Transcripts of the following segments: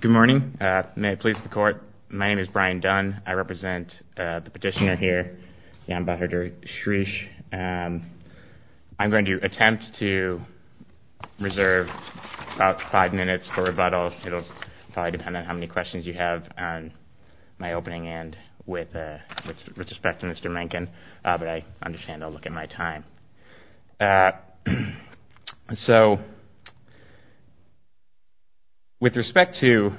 Good morning. May it please the court, my name is Brian Dunn. I represent the petitioner here, the Ambassador Shreesh. I'm going to attempt to reserve about five minutes for rebuttal. It'll probably depend on how many questions you have on my opening end with respect to Mr. Mencken, but I understand I'll look at my time. So with respect to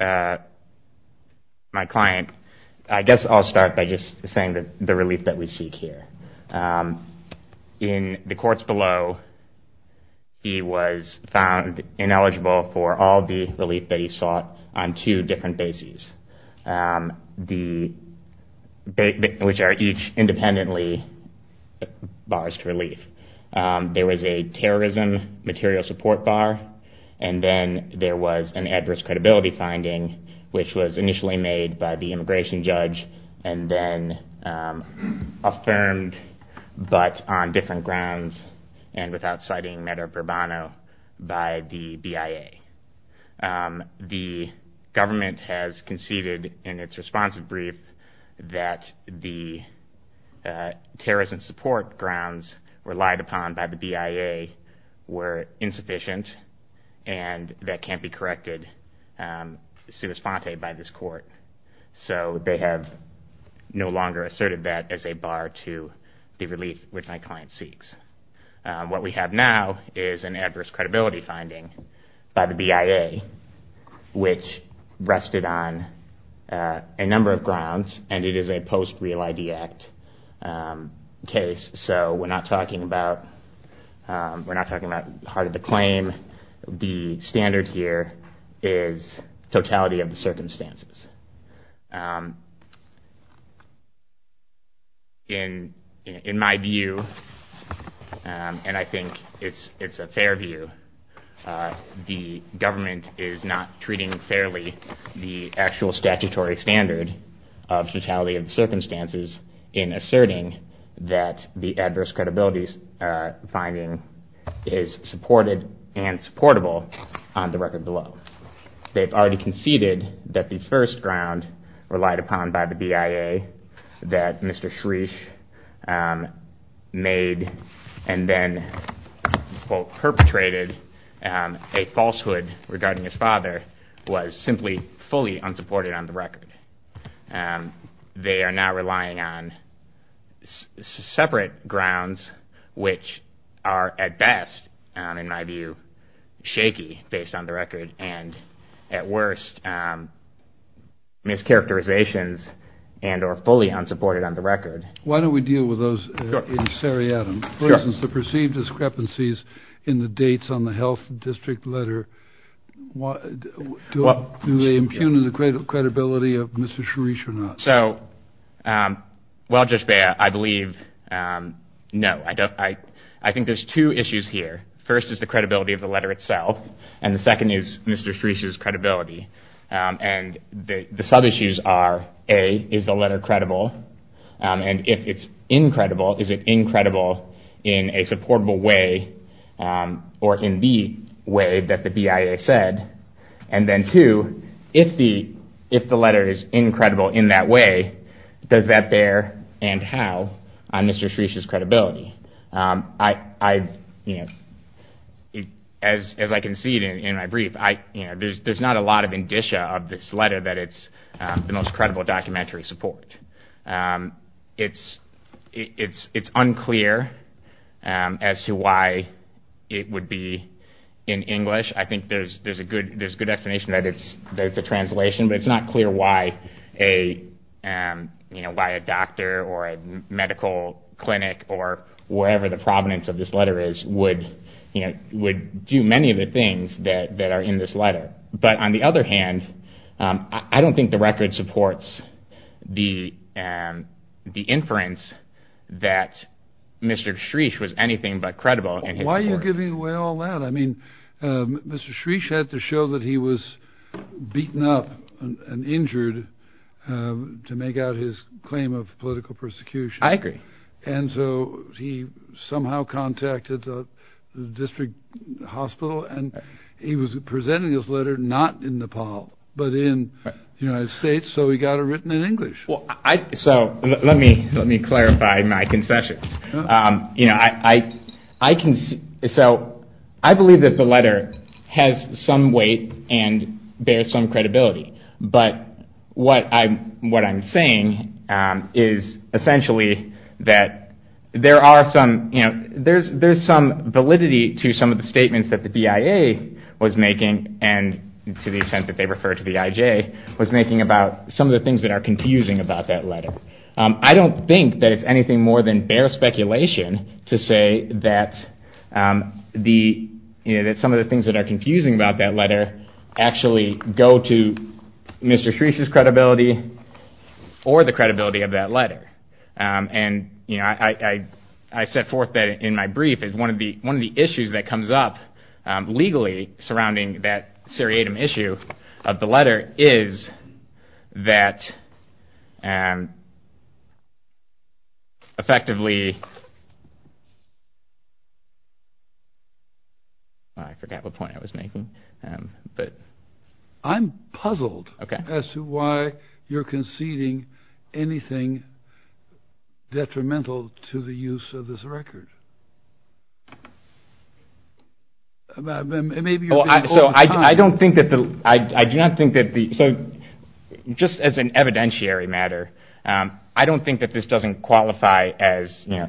my client, I guess I'll start by just saying that the relief that we seek here. In the courts below, he was found ineligible for all the which are each independently bars to relief. There was a terrorism material support bar and then there was an adverse credibility finding which was initially made by the immigration judge and then affirmed but on different grounds and without citing matter of bravado by the BIA. The government has conceded in its responsive brief that the terrorism support grounds relied upon by the BIA were insufficient and that can't be corrected by this court. So they have no longer asserted that as a bar to the relief which my client seeks. What we have now is an adverse credibility finding by the BIA which rested on a number of grounds and it is a post-Real ID Act case. So we're not talking about heart of the claim. The standard here is totality of the circumstances and I think it's a fair view. The government is not treating fairly the actual statutory standard of totality of the circumstances in asserting that the adverse credibility finding is supported and supportable on the record below. They've already conceded that the first ground relied upon by the BIA that Mr. Shreesh made and then perpetrated a falsehood regarding his father was simply fully unsupported on the record. They are now relying on separate grounds which are at best in my view shaky based on the record and at worst mischaracterizations and or fully unsupported on the record. Why don't we deal with those in seriatim? For instance, the perceived discrepancies in the dates on the health district letter, do they impugn the credibility of Mr. Shreesh or not? Well, Judge Beyer, I believe no. I think there's two issues here. First is the credibility of the letter itself and the second is Mr. Shreesh's credibility and the sub-issues are A, is the letter credible and if it's credible, is it incredible in a supportable way or in the way that the BIA said and then two, if the letter is incredible in that way, does that bear and how on Mr. Shreesh's credibility? As I concede in my brief, there's not a lot of indicia of this letter that it's the most credible. It's unclear as to why it would be in English. I think there's a good explanation that it's a translation but it's not clear why a doctor or a medical clinic or wherever the provenance of this letter is would do many of the things that are in this letter. But on the other hand, I don't think the record supports the inference that Mr. Shreesh was anything but credible. Why are you giving away all that? I mean, Mr. Shreesh had to show that he was beaten up and injured to make out his claim of political persecution. I agree. And so he somehow contacted the hospital and he was presenting his letter not in Nepal, but in the United States. So he got it written in English. So let me let me clarify my concessions. You know, I, I can. So I believe that the letter has some weight and bears some credibility. But what I'm what I'm saying is essentially that there are some, you know, there's, there's some validity to some of the statements that the BIA was making and to the extent that they refer to the IJ, was making about some of the things that are confusing about that letter. I don't think that it's anything more than bare speculation to say that the, you know, that some of the things that are confusing about that letter actually go to Mr. Shreesh's head. And, you know, I, I, I set forth that in my brief is one of the, one of the issues that comes up legally surrounding that seriatim issue of the letter is that effectively, I forgot what point I was making, but I'm puzzled as to why you're conceding anything detrimental to the use of this record. So I don't think that the, I do not think that the, so just as an evidentiary matter, I don't think that this doesn't qualify as, you know,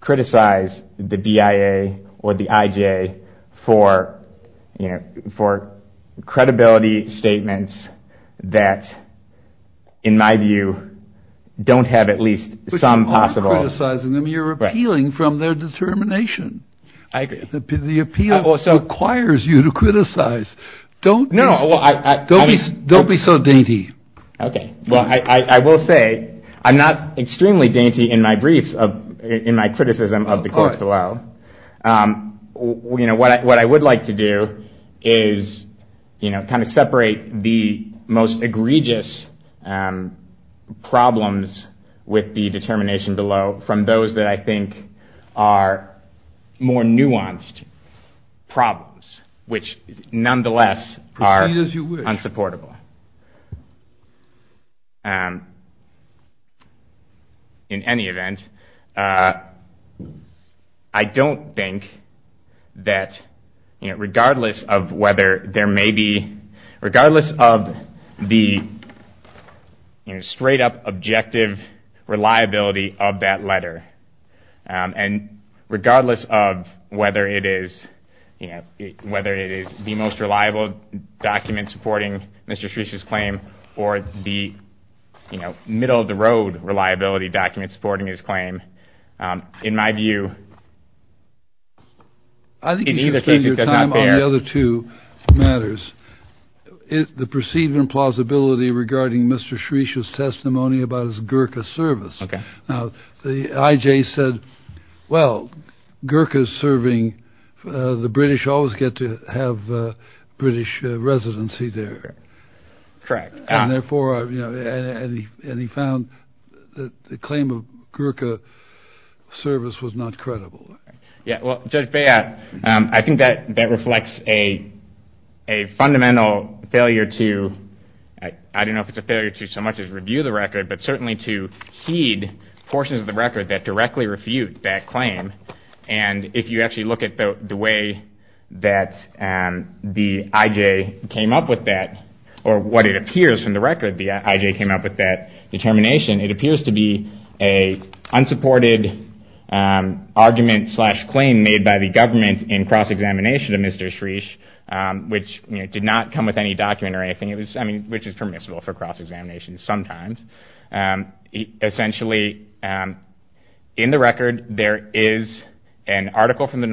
criticize the BIA or the IJ for, you know, for credibility statements that in my view, don't have at least some possible... But you aren't criticizing them, you're appealing from their determination. The appeal requires you to criticize. Don't be so dainty. Okay. Well, I, I, I will say I'm not extremely dainty in my briefs of, in my criticism of the court below. You know, what I, what I would like to do is, you know, kind of separate the most egregious problems with the determination below from those that I think are more in any event. I don't think that, you know, regardless of whether there may be, regardless of the, you know, straight up objective reliability of that letter, and regardless of whether it is, you know, whether it is the most reliable document supporting Mr. Shreesh or the, you know, middle of the road reliability documents supporting his claim, in my view, in either case it does not bear... I think you should spend your time on the other two matters. The perceived implausibility regarding Mr. Shreesh's testimony about his Gurkha service. Okay. Now the IJ said, well, Gurkha's serving, the British always get to have British residency there. Correct. And therefore, you know, and he, and he found that the claim of Gurkha service was not credible. Yeah. Well, Judge, I think that that reflects a, a fundamental failure to, I don't know if it's a failure to so much as review the record, but certainly to heed portions of the record that directly refute that claim. And if you actually look at the way that the IJ came up with that, or what it appears from the record, the IJ came up with that determination, it appears to be a unsupported argument slash claim made by the government in cross-examination of Mr. Shreesh, which, you know, did not come with any document or anything. It was, I mean, which is permissible for cross-examination sometimes. Essentially, in the record, there is an article from the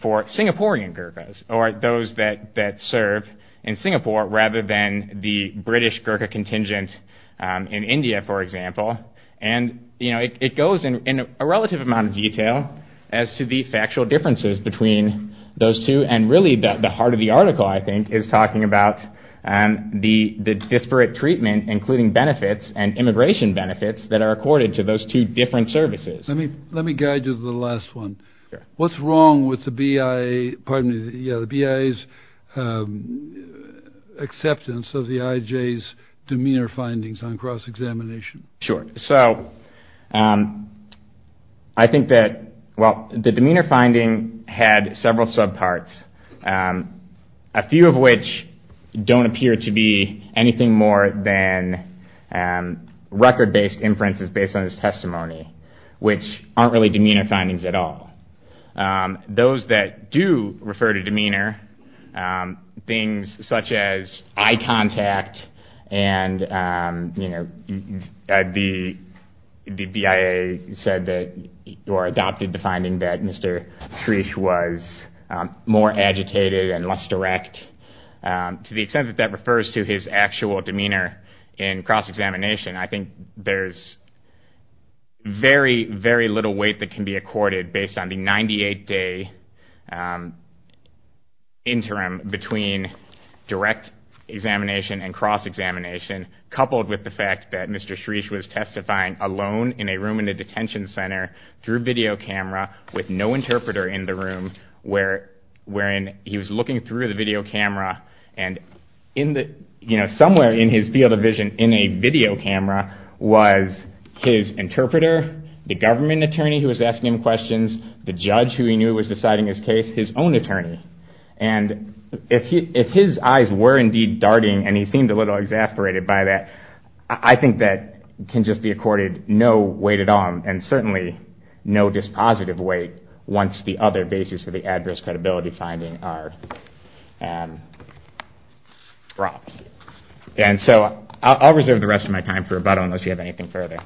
for Singaporean Gurkhas or those that serve in Singapore rather than the British Gurkha contingent in India, for example. And, you know, it goes in a relative amount of detail as to the factual differences between those two. And really the heart of the article, I think, is talking about the disparate treatment, including benefits and immigration benefits that are accorded to those two different services. Let me guide you to the last one. What's wrong with the BIA's acceptance of the IJ's demeanor findings on cross-examination? Sure. So I think that, well, the demeanor finding had several subparts, a few of which don't appear to be anything more than record-based inferences based on his testimony, which aren't really demeanor findings at all. Those that do refer to demeanor, things such as eye contact and, you know, the BIA said that, or adopted the finding, that Mr. Shreesh was more agitated and less direct. To the extent that that refers to his actual demeanor in cross-examination, I think there's very, very little weight that can be accorded based on the 98-day interim between direct examination and cross-examination, coupled with the fact that Mr. Shreesh was testifying alone in a room in a detention center through video camera with no interpreter in the room, wherein he was looking through the video camera and, you know, somewhere in his field of vision in a video camera was his interpreter, the government attorney who was asking him questions, the judge who he knew was deciding his case, his own attorney. And if his eyes were indeed darting, and he seemed a little exasperated by that, I think that can just be accorded no weight at all, and certainly no dispositive weight once the other basis for the adverse credibility finding are dropped. And so I'll reserve the rest of my time for rebuttal unless you have anything further.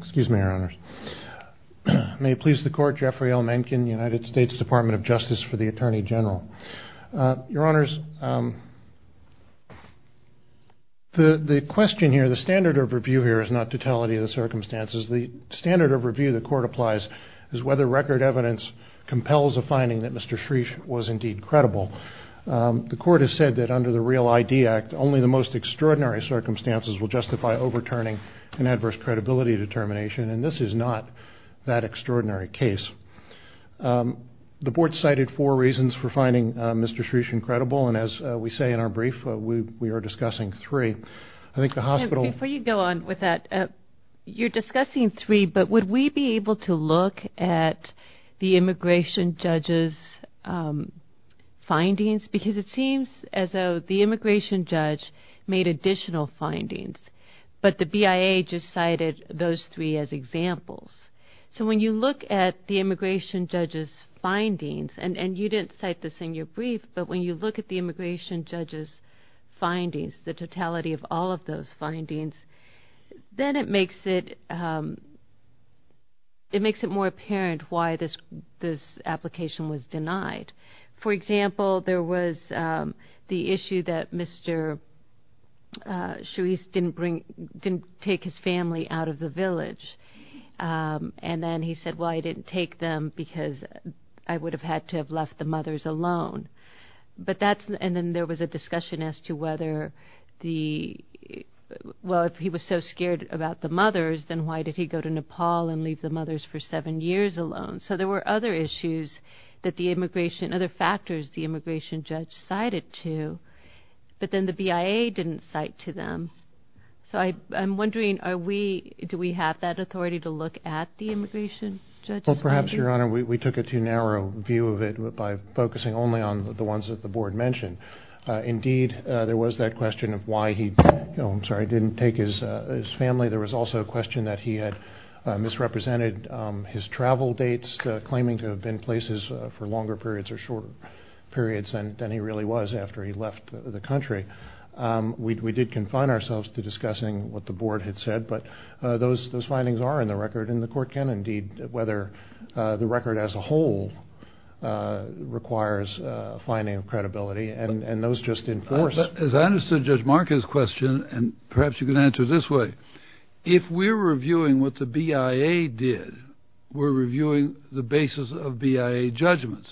Excuse me, Your Honors. May it please the Court, Jeffrey L. Mencken, United States Department of Justice for the Attorney General. Your Honors, the question here, the standard of review here is not totality of the circumstances. The standard of review the Court applies is whether record evidence compels a finding that Mr. Shreesh was indeed credible. The Court has said that under the REAL-ID Act, only the most extraordinary circumstances will justify overturning an adverse credibility determination, and this is not that extraordinary case. The Board cited four reasons for finding Mr. Shreesh incredible, and as we say in our brief, we are discussing three. I think the hospital... because it seems as though the immigration judge made additional findings, but the BIA just cited those three as examples. So when you look at the immigration judge's findings, and you didn't cite this in your brief, but when you look at the immigration judge's findings, the totality of all of those findings, then it makes it more apparent why this application was denied. For example, there was the issue that Mr. Shreesh didn't bring... didn't take his family out of the village, and then he said, well, I didn't take them because I would have had to have left the mothers alone. But that's... and then there was a discussion as to whether the... well, if he was so scared about the mothers, then why did he go to Nepal and leave the mothers for seven years alone? So there were other issues that the immigration... other factors the immigration judge cited to, but then the BIA didn't cite to them. So I'm wondering, are we... do we have that authority to look at the immigration judge's findings? Well, perhaps, Your Honor, we took a too narrow view of it by focusing only on the ones that the Board mentioned. Indeed, there was that question of why he... oh, I'm sorry, didn't take his family. There was also a question that he had misrepresented his travel dates, claiming to have been places for longer periods or shorter periods than he really was after he left the country. We did confine ourselves to discussing what the Board had said, but those findings are in the record, and the Court can, indeed, whether the record as a whole requires a finding of credibility, and those just enforce... As I understood Judge Marcus' question, and perhaps you can answer it this way, if we're reviewing what the BIA did, we're reviewing the basis of BIA judgments.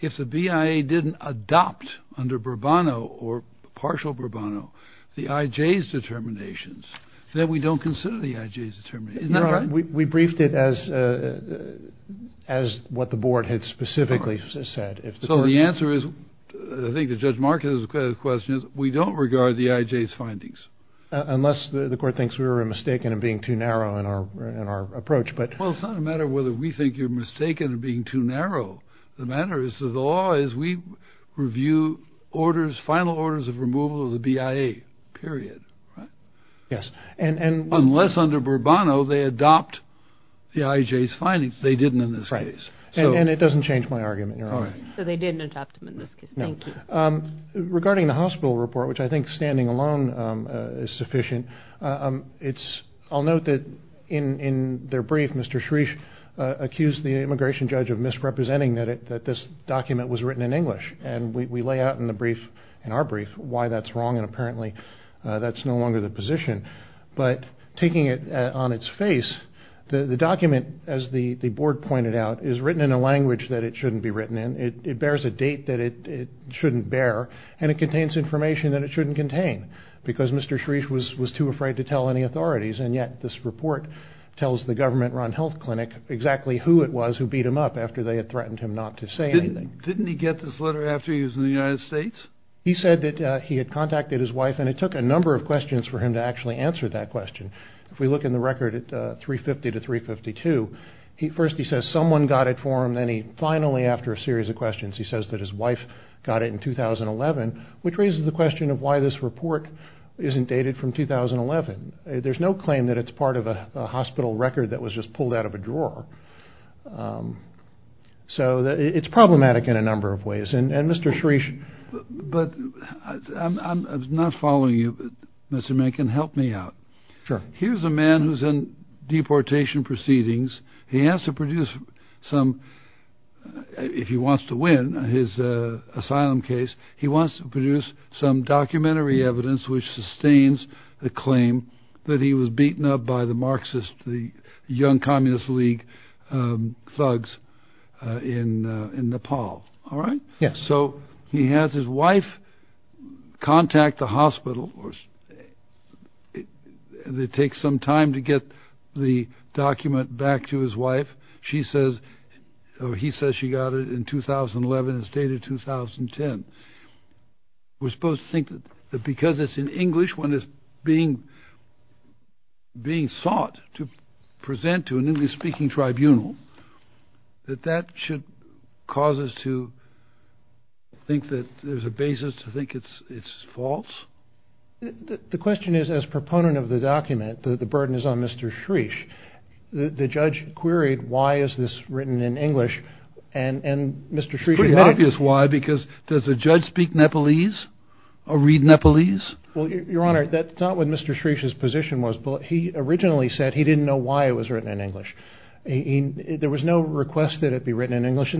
If the BIA didn't adopt under Bourbano or partial Bourbano the IJ's determinations, then we don't consider the IJ's determinations. Isn't that right? Your Honor, we briefed it as what the Board had specifically said. So the answer is, I think to Judge Marcus' question, we don't regard the IJ's findings. Unless the Court thinks we were mistaken in being too narrow in our approach. Well, it's not a matter of whether we think you're mistaken in being too narrow. The matter is the law is we review final orders of removal of the BIA, period. Unless under Bourbano they adopt the IJ's findings, they didn't in this case. And it doesn't change my argument, Your Honor. So they didn't adopt them in this case. No. Thank you. Regarding the hospital report, which I think standing alone is sufficient, I'll note that in their brief, Mr. Shreesh accused the immigration judge of misrepresenting that this document was written in English. And we lay out in the brief, in our brief, why that's wrong, and apparently that's no longer the position. But taking it on its face, the document, as the Board pointed out, is written in a language that it shouldn't be written in. It bears a date that it shouldn't bear, and it contains information that it shouldn't contain, because Mr. Shreesh was too afraid to tell any authorities. And yet this report tells the government-run health clinic exactly who it was who beat him up after they had threatened him not to say anything. Didn't he get this letter after he was in the United States? He said that he had contacted his wife, and it took a number of questions for him to actually answer that question. If we look in the record at 350 to 352, first he says someone got it for him. Then he finally, after a series of questions, he says that his wife got it in 2011, which raises the question of why this report isn't dated from 2011. There's no claim that it's part of a hospital record that was just pulled out of a drawer. So it's problematic in a number of ways. But I'm not following you, Mr. Menken. Help me out. Sure. Here's a man who's in deportation proceedings. He has to produce some, if he wants to win his asylum case, he wants to produce some documentary evidence which sustains the claim that he was beaten up by the Marxist, the young Communist League thugs in Nepal. All right? Yes. So he has his wife contact the hospital. It takes some time to get the document back to his wife. She says, or he says she got it in 2011 and it's dated 2010. We're supposed to think that because it's in English, when it's being sought to present to an English speaking tribunal, that that should cause us to think that there's a basis to think it's false. The question is, as proponent of the document, the burden is on Mr. Shreesh. The judge queried, why is this written in English? It's pretty obvious why, because does a judge speak Nepalese or read Nepalese? Well, Your Honor, that's not what Mr. Shreesh's position was. He originally said he didn't know why it was written in English. There was no request that it be written in English.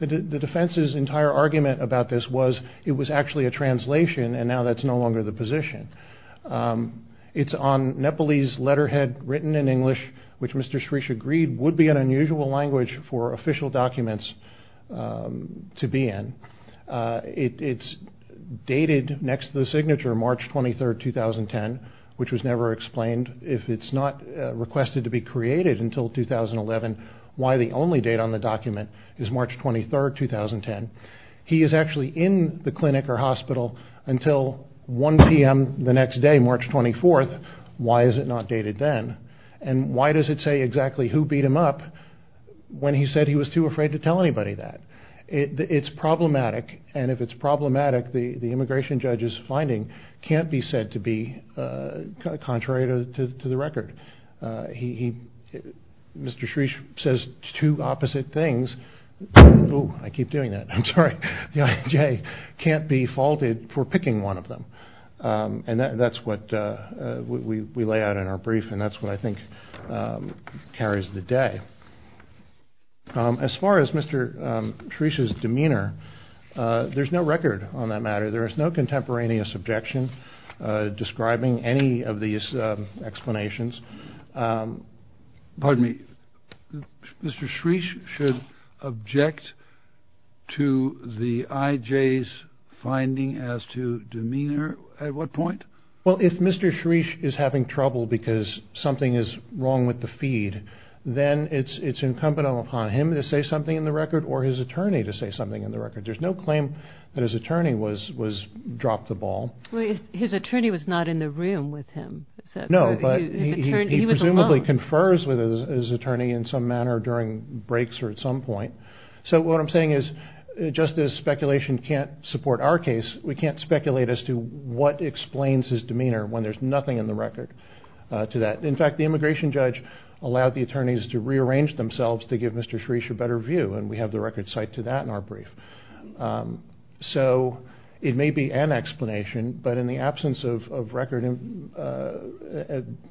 The defense's entire argument about this was it was actually a translation, and now that's no longer the position. It's on Nepalese letterhead written in English, which Mr. Shreesh agreed would be an unusual language for official documents to be in. It's dated next to the signature March 23, 2010, which was never explained. If it's not requested to be created until 2011, why the only date on the document is March 23, 2010? He is actually in the clinic or hospital until 1 p.m. the next day, March 24. Why is it not dated then? And why does it say exactly who beat him up when he said he was too afraid to tell anybody that? It's problematic, and if it's problematic, the immigration judge's finding can't be said to be contrary to the record. Mr. Shreesh says two opposite things. Ooh, I keep doing that, I'm sorry. The IAJ can't be faulted for picking one of them. And that's what we lay out in our brief, and that's what I think carries the day. As far as Mr. Shreesh's demeanor, there's no record on that matter. There is no contemporaneous objection describing any of these explanations. Pardon me. Mr. Shreesh should object to the IJ's finding as to demeanor? At what point? Well, if Mr. Shreesh is having trouble because something is wrong with the feed, then it's incumbent upon him to say something in the record or his attorney to say something in the record. There's no claim that his attorney dropped the ball. His attorney was not in the room with him. No, but he presumably confers with his attorney in some manner during breaks or at some point. So what I'm saying is, just as speculation can't support our case, we can't speculate as to what explains his demeanor when there's nothing in the record to that. In fact, the immigration judge allowed the attorneys to rearrange themselves to give Mr. Shreesh a better view, and we have the record cite to that in our brief. So it may be an explanation, but in the absence of record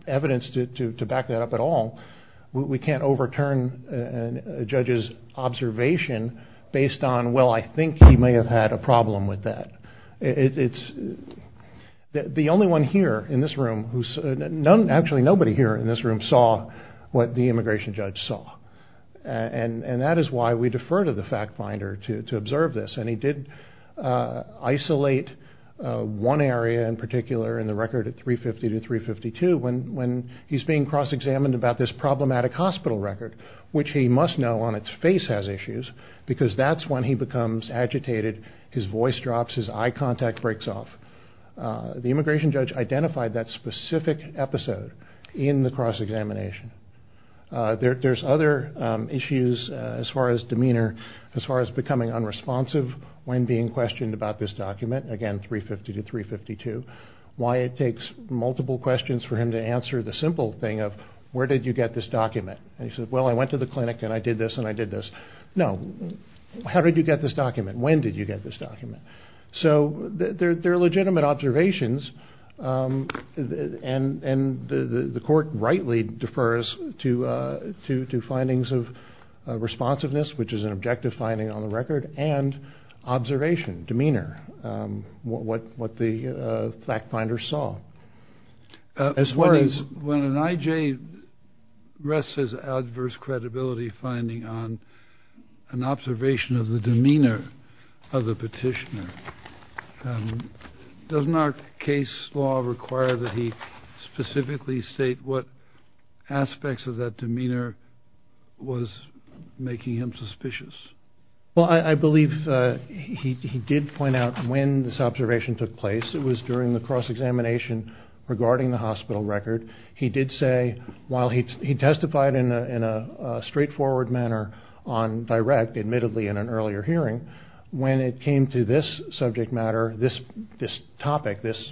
evidence to back that up at all, we can't overturn a judge's observation based on, well, I think he may have had a problem with that. The only one here in this room, actually nobody here in this room, saw what the immigration judge saw. And that is why we defer to the fact finder to observe this, and he did isolate one area in particular in the record at 350 to 352, when he's being cross-examined about this problematic hospital record, which he must know on its face has issues because that's when he becomes agitated. His voice drops. His eye contact breaks off. The immigration judge identified that specific episode in the cross-examination. There's other issues as far as demeanor, as far as becoming unresponsive when being questioned about this document, again, 350 to 352, why it takes multiple questions for him to answer the simple thing of, where did you get this document? And he says, well, I went to the clinic and I did this and I did this. No, how did you get this document? When did you get this document? So there are legitimate observations, and the court rightly defers to findings of responsiveness, which is an objective finding on the record, and observation, demeanor, what the fact finder saw. When an IJ rests his adverse credibility finding on an observation of the demeanor of the petitioner, doesn't our case law require that he specifically state what aspects of that demeanor was making him suspicious? Well, I believe he did point out when this observation took place. It was during the cross-examination regarding the hospital record. He did say, while he testified in a straightforward manner on direct, admittedly in an earlier hearing, when it came to this subject matter, this topic, this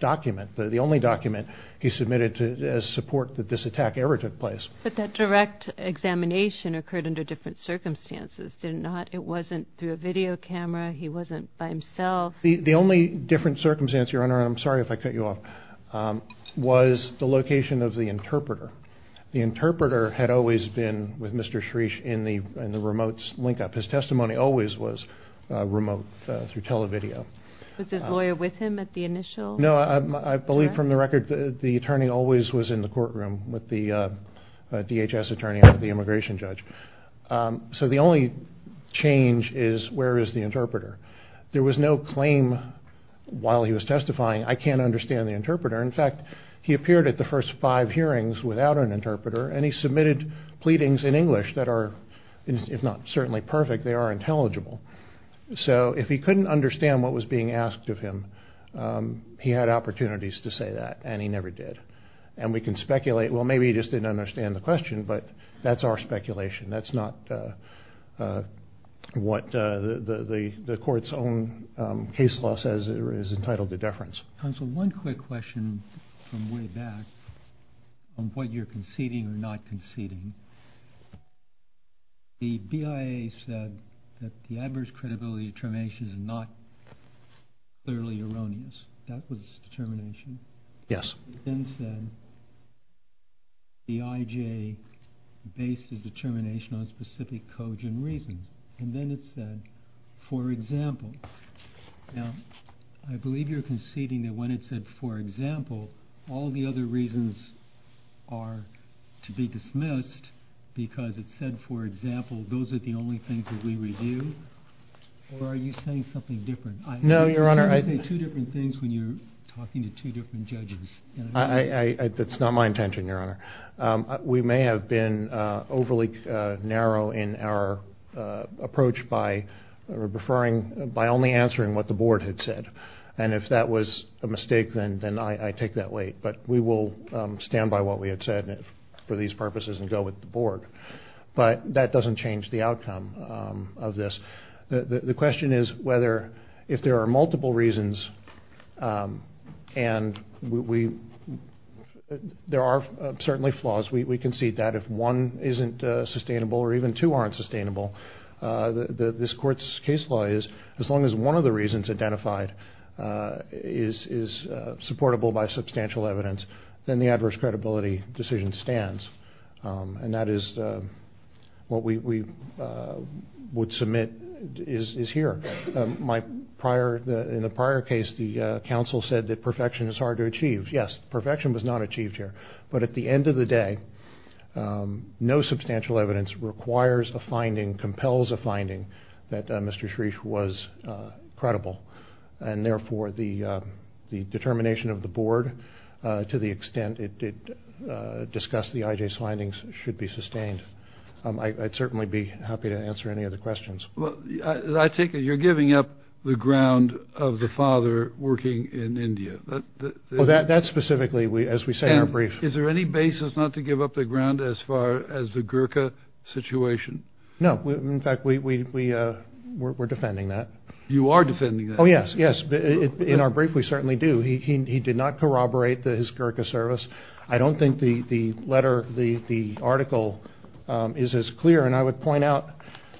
document, the only document, he submitted as support that this attack ever took place. But that direct examination occurred under different circumstances, did it not? It wasn't through a video camera, he wasn't by himself. The only different circumstance, Your Honor, and I'm sorry if I cut you off, was the location of the interpreter. The interpreter had always been with Mr. Shreesh in the remote link-up. His testimony always was remote through televideo. Was his lawyer with him at the initial? No, I believe from the record the attorney always was in the courtroom with the DHS attorney and the immigration judge. So the only change is, where is the interpreter? There was no claim while he was testifying, I can't understand the interpreter. In fact, he appeared at the first five hearings without an interpreter, and he submitted pleadings in English that are, if not certainly perfect, they are intelligible. So if he couldn't understand what was being asked of him, he had opportunities to say that, and he never did. And we can speculate, well, maybe he just didn't understand the question, but that's our speculation. That's not what the court's own case law says is entitled to deference. Counsel, one quick question from way back on what you're conceding or not conceding. The BIA said that the adverse credibility determination is not clearly erroneous. That was determination? Yes. Then it said the IJ based its determination on specific codes and reasons. And then it said, for example. Now, I believe you're conceding that when it said, for example, all the other reasons are to be dismissed because it said, for example, those are the only things that we review? Or are you saying something different? No, Your Honor. You always say two different things when you're talking to two different judges. That's not my intention, Your Honor. We may have been overly narrow in our approach by only answering what the board had said. And if that was a mistake, then I take that weight. But we will stand by what we had said for these purposes and go with the board. But that doesn't change the outcome of this. The question is whether if there are multiple reasons, and there are certainly flaws. We concede that. If one isn't sustainable or even two aren't sustainable, this Court's case law is, as long as one of the reasons identified is supportable by substantial evidence, then the adverse credibility decision stands. And that is what we would submit is here. In the prior case, the counsel said that perfection is hard to achieve. Yes, perfection was not achieved here. But at the end of the day, no substantial evidence requires a finding, compels a finding, that Mr. Shreef was credible. And, therefore, the determination of the board to the extent it discussed the IJ findings should be sustained. I'd certainly be happy to answer any other questions. Well, I take it you're giving up the ground of the father working in India. Well, that specifically, as we say in our brief. Is there any basis not to give up the ground as far as the Gurkha situation? No. In fact, we're defending that. You are defending that. Oh, yes, yes. In our brief, we certainly do. He did not corroborate his Gurkha service. I don't think the letter, the article is as clear. And I would point out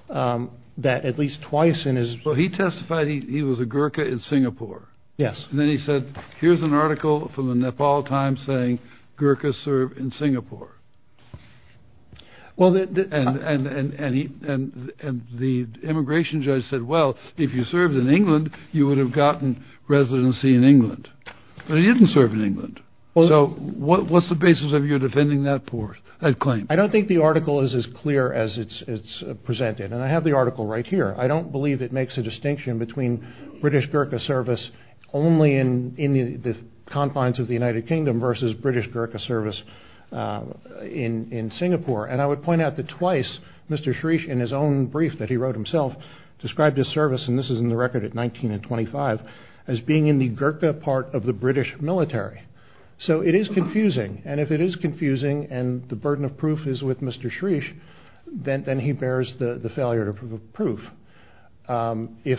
that at least twice in his book. But he testified he was a Gurkha in Singapore. Yes. And then he said, here's an article from the Nepal Times saying Gurkhas serve in Singapore. Well, and the immigration judge said, well, if you served in England, you would have gotten residency in England. But he didn't serve in England. So what's the basis of your defending that claim? I don't think the article is as clear as it's presented. And I have the article right here. I don't believe it makes a distinction between British Gurkha service only in the confines of the United Kingdom versus British Gurkha service in Singapore. And I would point out that twice, Mr. Shreesh, in his own brief that he wrote himself, described his service, and this is in the record at 19 and 25, as being in the Gurkha part of the British military. So it is confusing. And if it is confusing and the burden of proof is with Mr. Shreesh, then he bears the failure of proof. If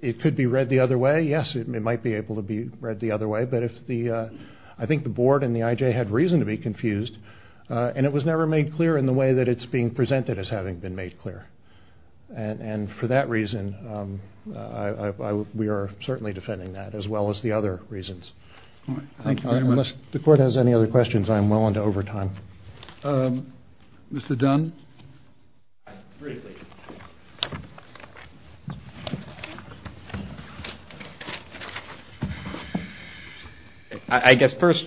it could be read the other way, yes, it might be able to be read the other way. But I think the board and the IJ had reason to be confused. And it was never made clear in the way that it's being presented as having been made clear. And for that reason, we are certainly defending that, as well as the other reasons. Thank you very much. Unless the court has any other questions, I am well into overtime. Mr. Dunn? Briefly. I guess first,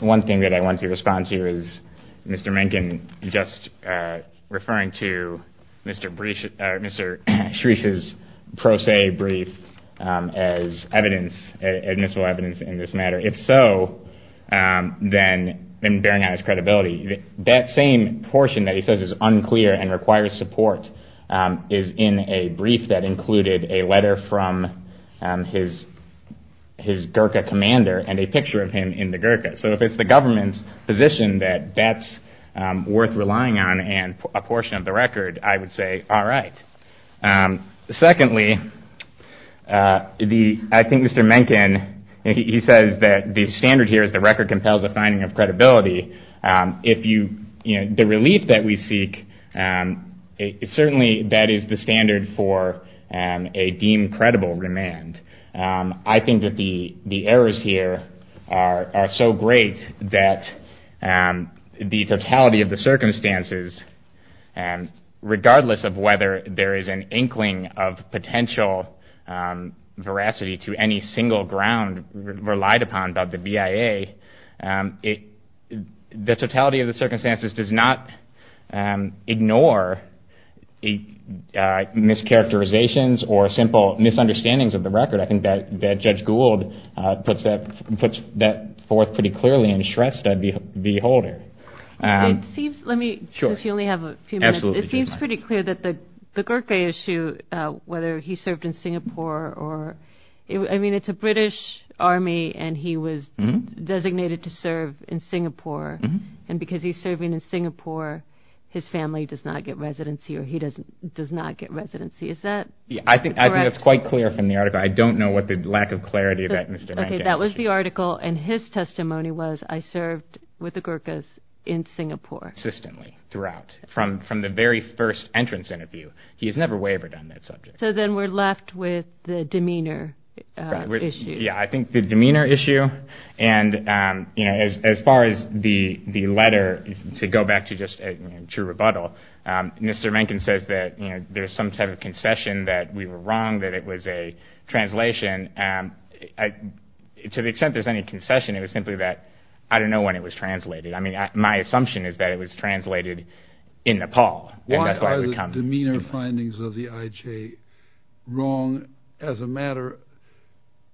one thing that I want to respond to is Mr. Mencken just referring to Mr. Shreesh's pro se brief as evidence, admissible evidence in this matter. If so, then bearing on his credibility, that same portion that he says is unclear and requires support is in a brief that included a letter from his Gurkha commander and a picture of him in the Gurkha. So if it's the government's position that that's worth relying on and a portion of the record, I would say all right. Secondly, I think Mr. Mencken, he says that the standard here is the record compels a finding of credibility. The relief that we seek, certainly that is the standard for a deemed credible remand. I think that the errors here are so great that the totality of the circumstances, regardless of whether there is an inkling of potential veracity to any single ground relied upon by the BIA, the totality of the circumstances does not ignore mischaracterizations or simple misunderstandings of the record. I think that Judge Gould puts that forth pretty clearly in Shrestha v. Holder. It seems pretty clear that the Gurkha issue, whether he served in Singapore or, I mean it's a British army and he was designated to serve in Singapore and because he's serving in Singapore, his family does not get residency or he does not get residency. Is that correct? I think that's quite clear from the article. I don't know what the lack of clarity of that Mr. Mencken. Okay, that was the article and his testimony was, I served with the Gurkhas in Singapore. Consistently, throughout, from the very first entrance interview. He has never wavered on that subject. So then we're left with the demeanor issue. Yeah, I think the demeanor issue and as far as the letter, to go back to just true rebuttal, Mr. Mencken says that there's some type of concession that we were wrong that it was a translation. To the extent there's any concession, it was simply that I don't know when it was translated. I mean my assumption is that it was translated in Nepal. Why are the demeanor findings of the IJ wrong as a matter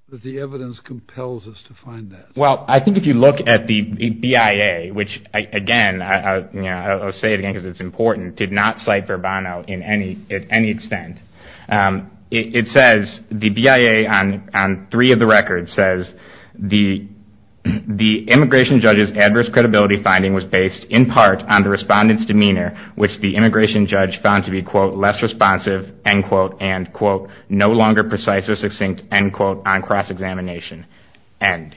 that the evidence compels us to find that? Well, I think if you look at the BIA, which again, I'll say it again because it's important, did not cite Verbano at any extent. It says, the BIA on three of the records says, the immigration judge's adverse credibility finding was based in part on the respondent's demeanor, which the immigration judge found to be quote, less responsive, end quote, and quote, no longer precise or succinct, end quote, on cross-examination, end.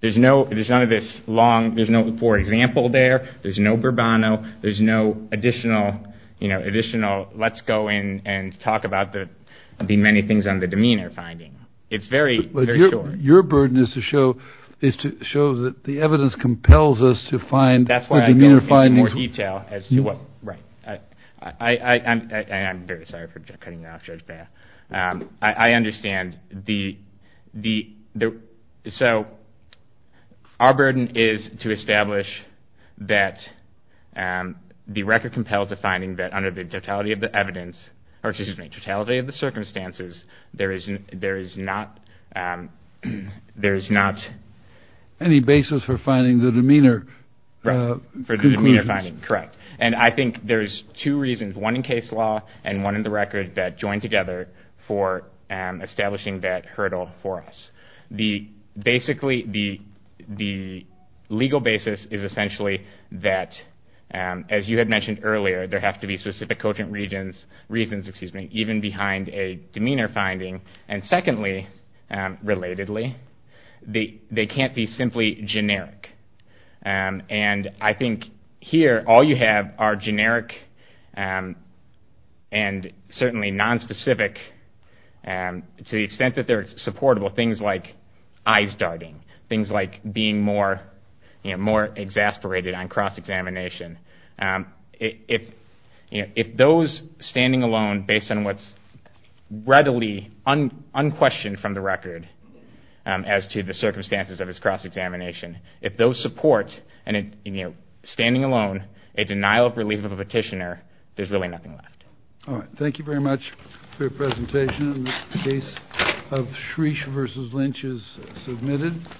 There's none of this long, there's no for example there, there's no Verbano, there's no additional, you know, additional let's go in and talk about the many things on the demeanor finding. It's very, very short. Your burden is to show that the evidence compels us to find the demeanor findings. That's where I go into more detail as to what, right. I'm very sorry for cutting you off, Judge Bass. I understand the, so our burden is to establish that the record compels the finding that under the totality of the evidence, or excuse me, totality of the circumstances, there is not, there is not. Any basis for finding the demeanor. For the demeanor finding, correct. And I think there's two reasons. One in case law and one in the record that join together for establishing that hurdle for us. The, basically, the legal basis is essentially that, as you had mentioned earlier, there have to be specific quotient regions, reasons, excuse me, even behind a demeanor finding. And secondly, relatedly, they can't be simply generic. And I think here, all you have are generic and certainly nonspecific, to the extent that they're supportable, things like eyes darting, things like being more, you know, more exasperated on cross-examination. If those standing alone, based on what's readily unquestioned from the record as to the circumstances of this cross-examination, if those support, you know, standing alone, a denial of relief of a petitioner, there's really nothing left. All right. Thank you very much for your presentation. The case of Shreesh v. Lynch is submitted.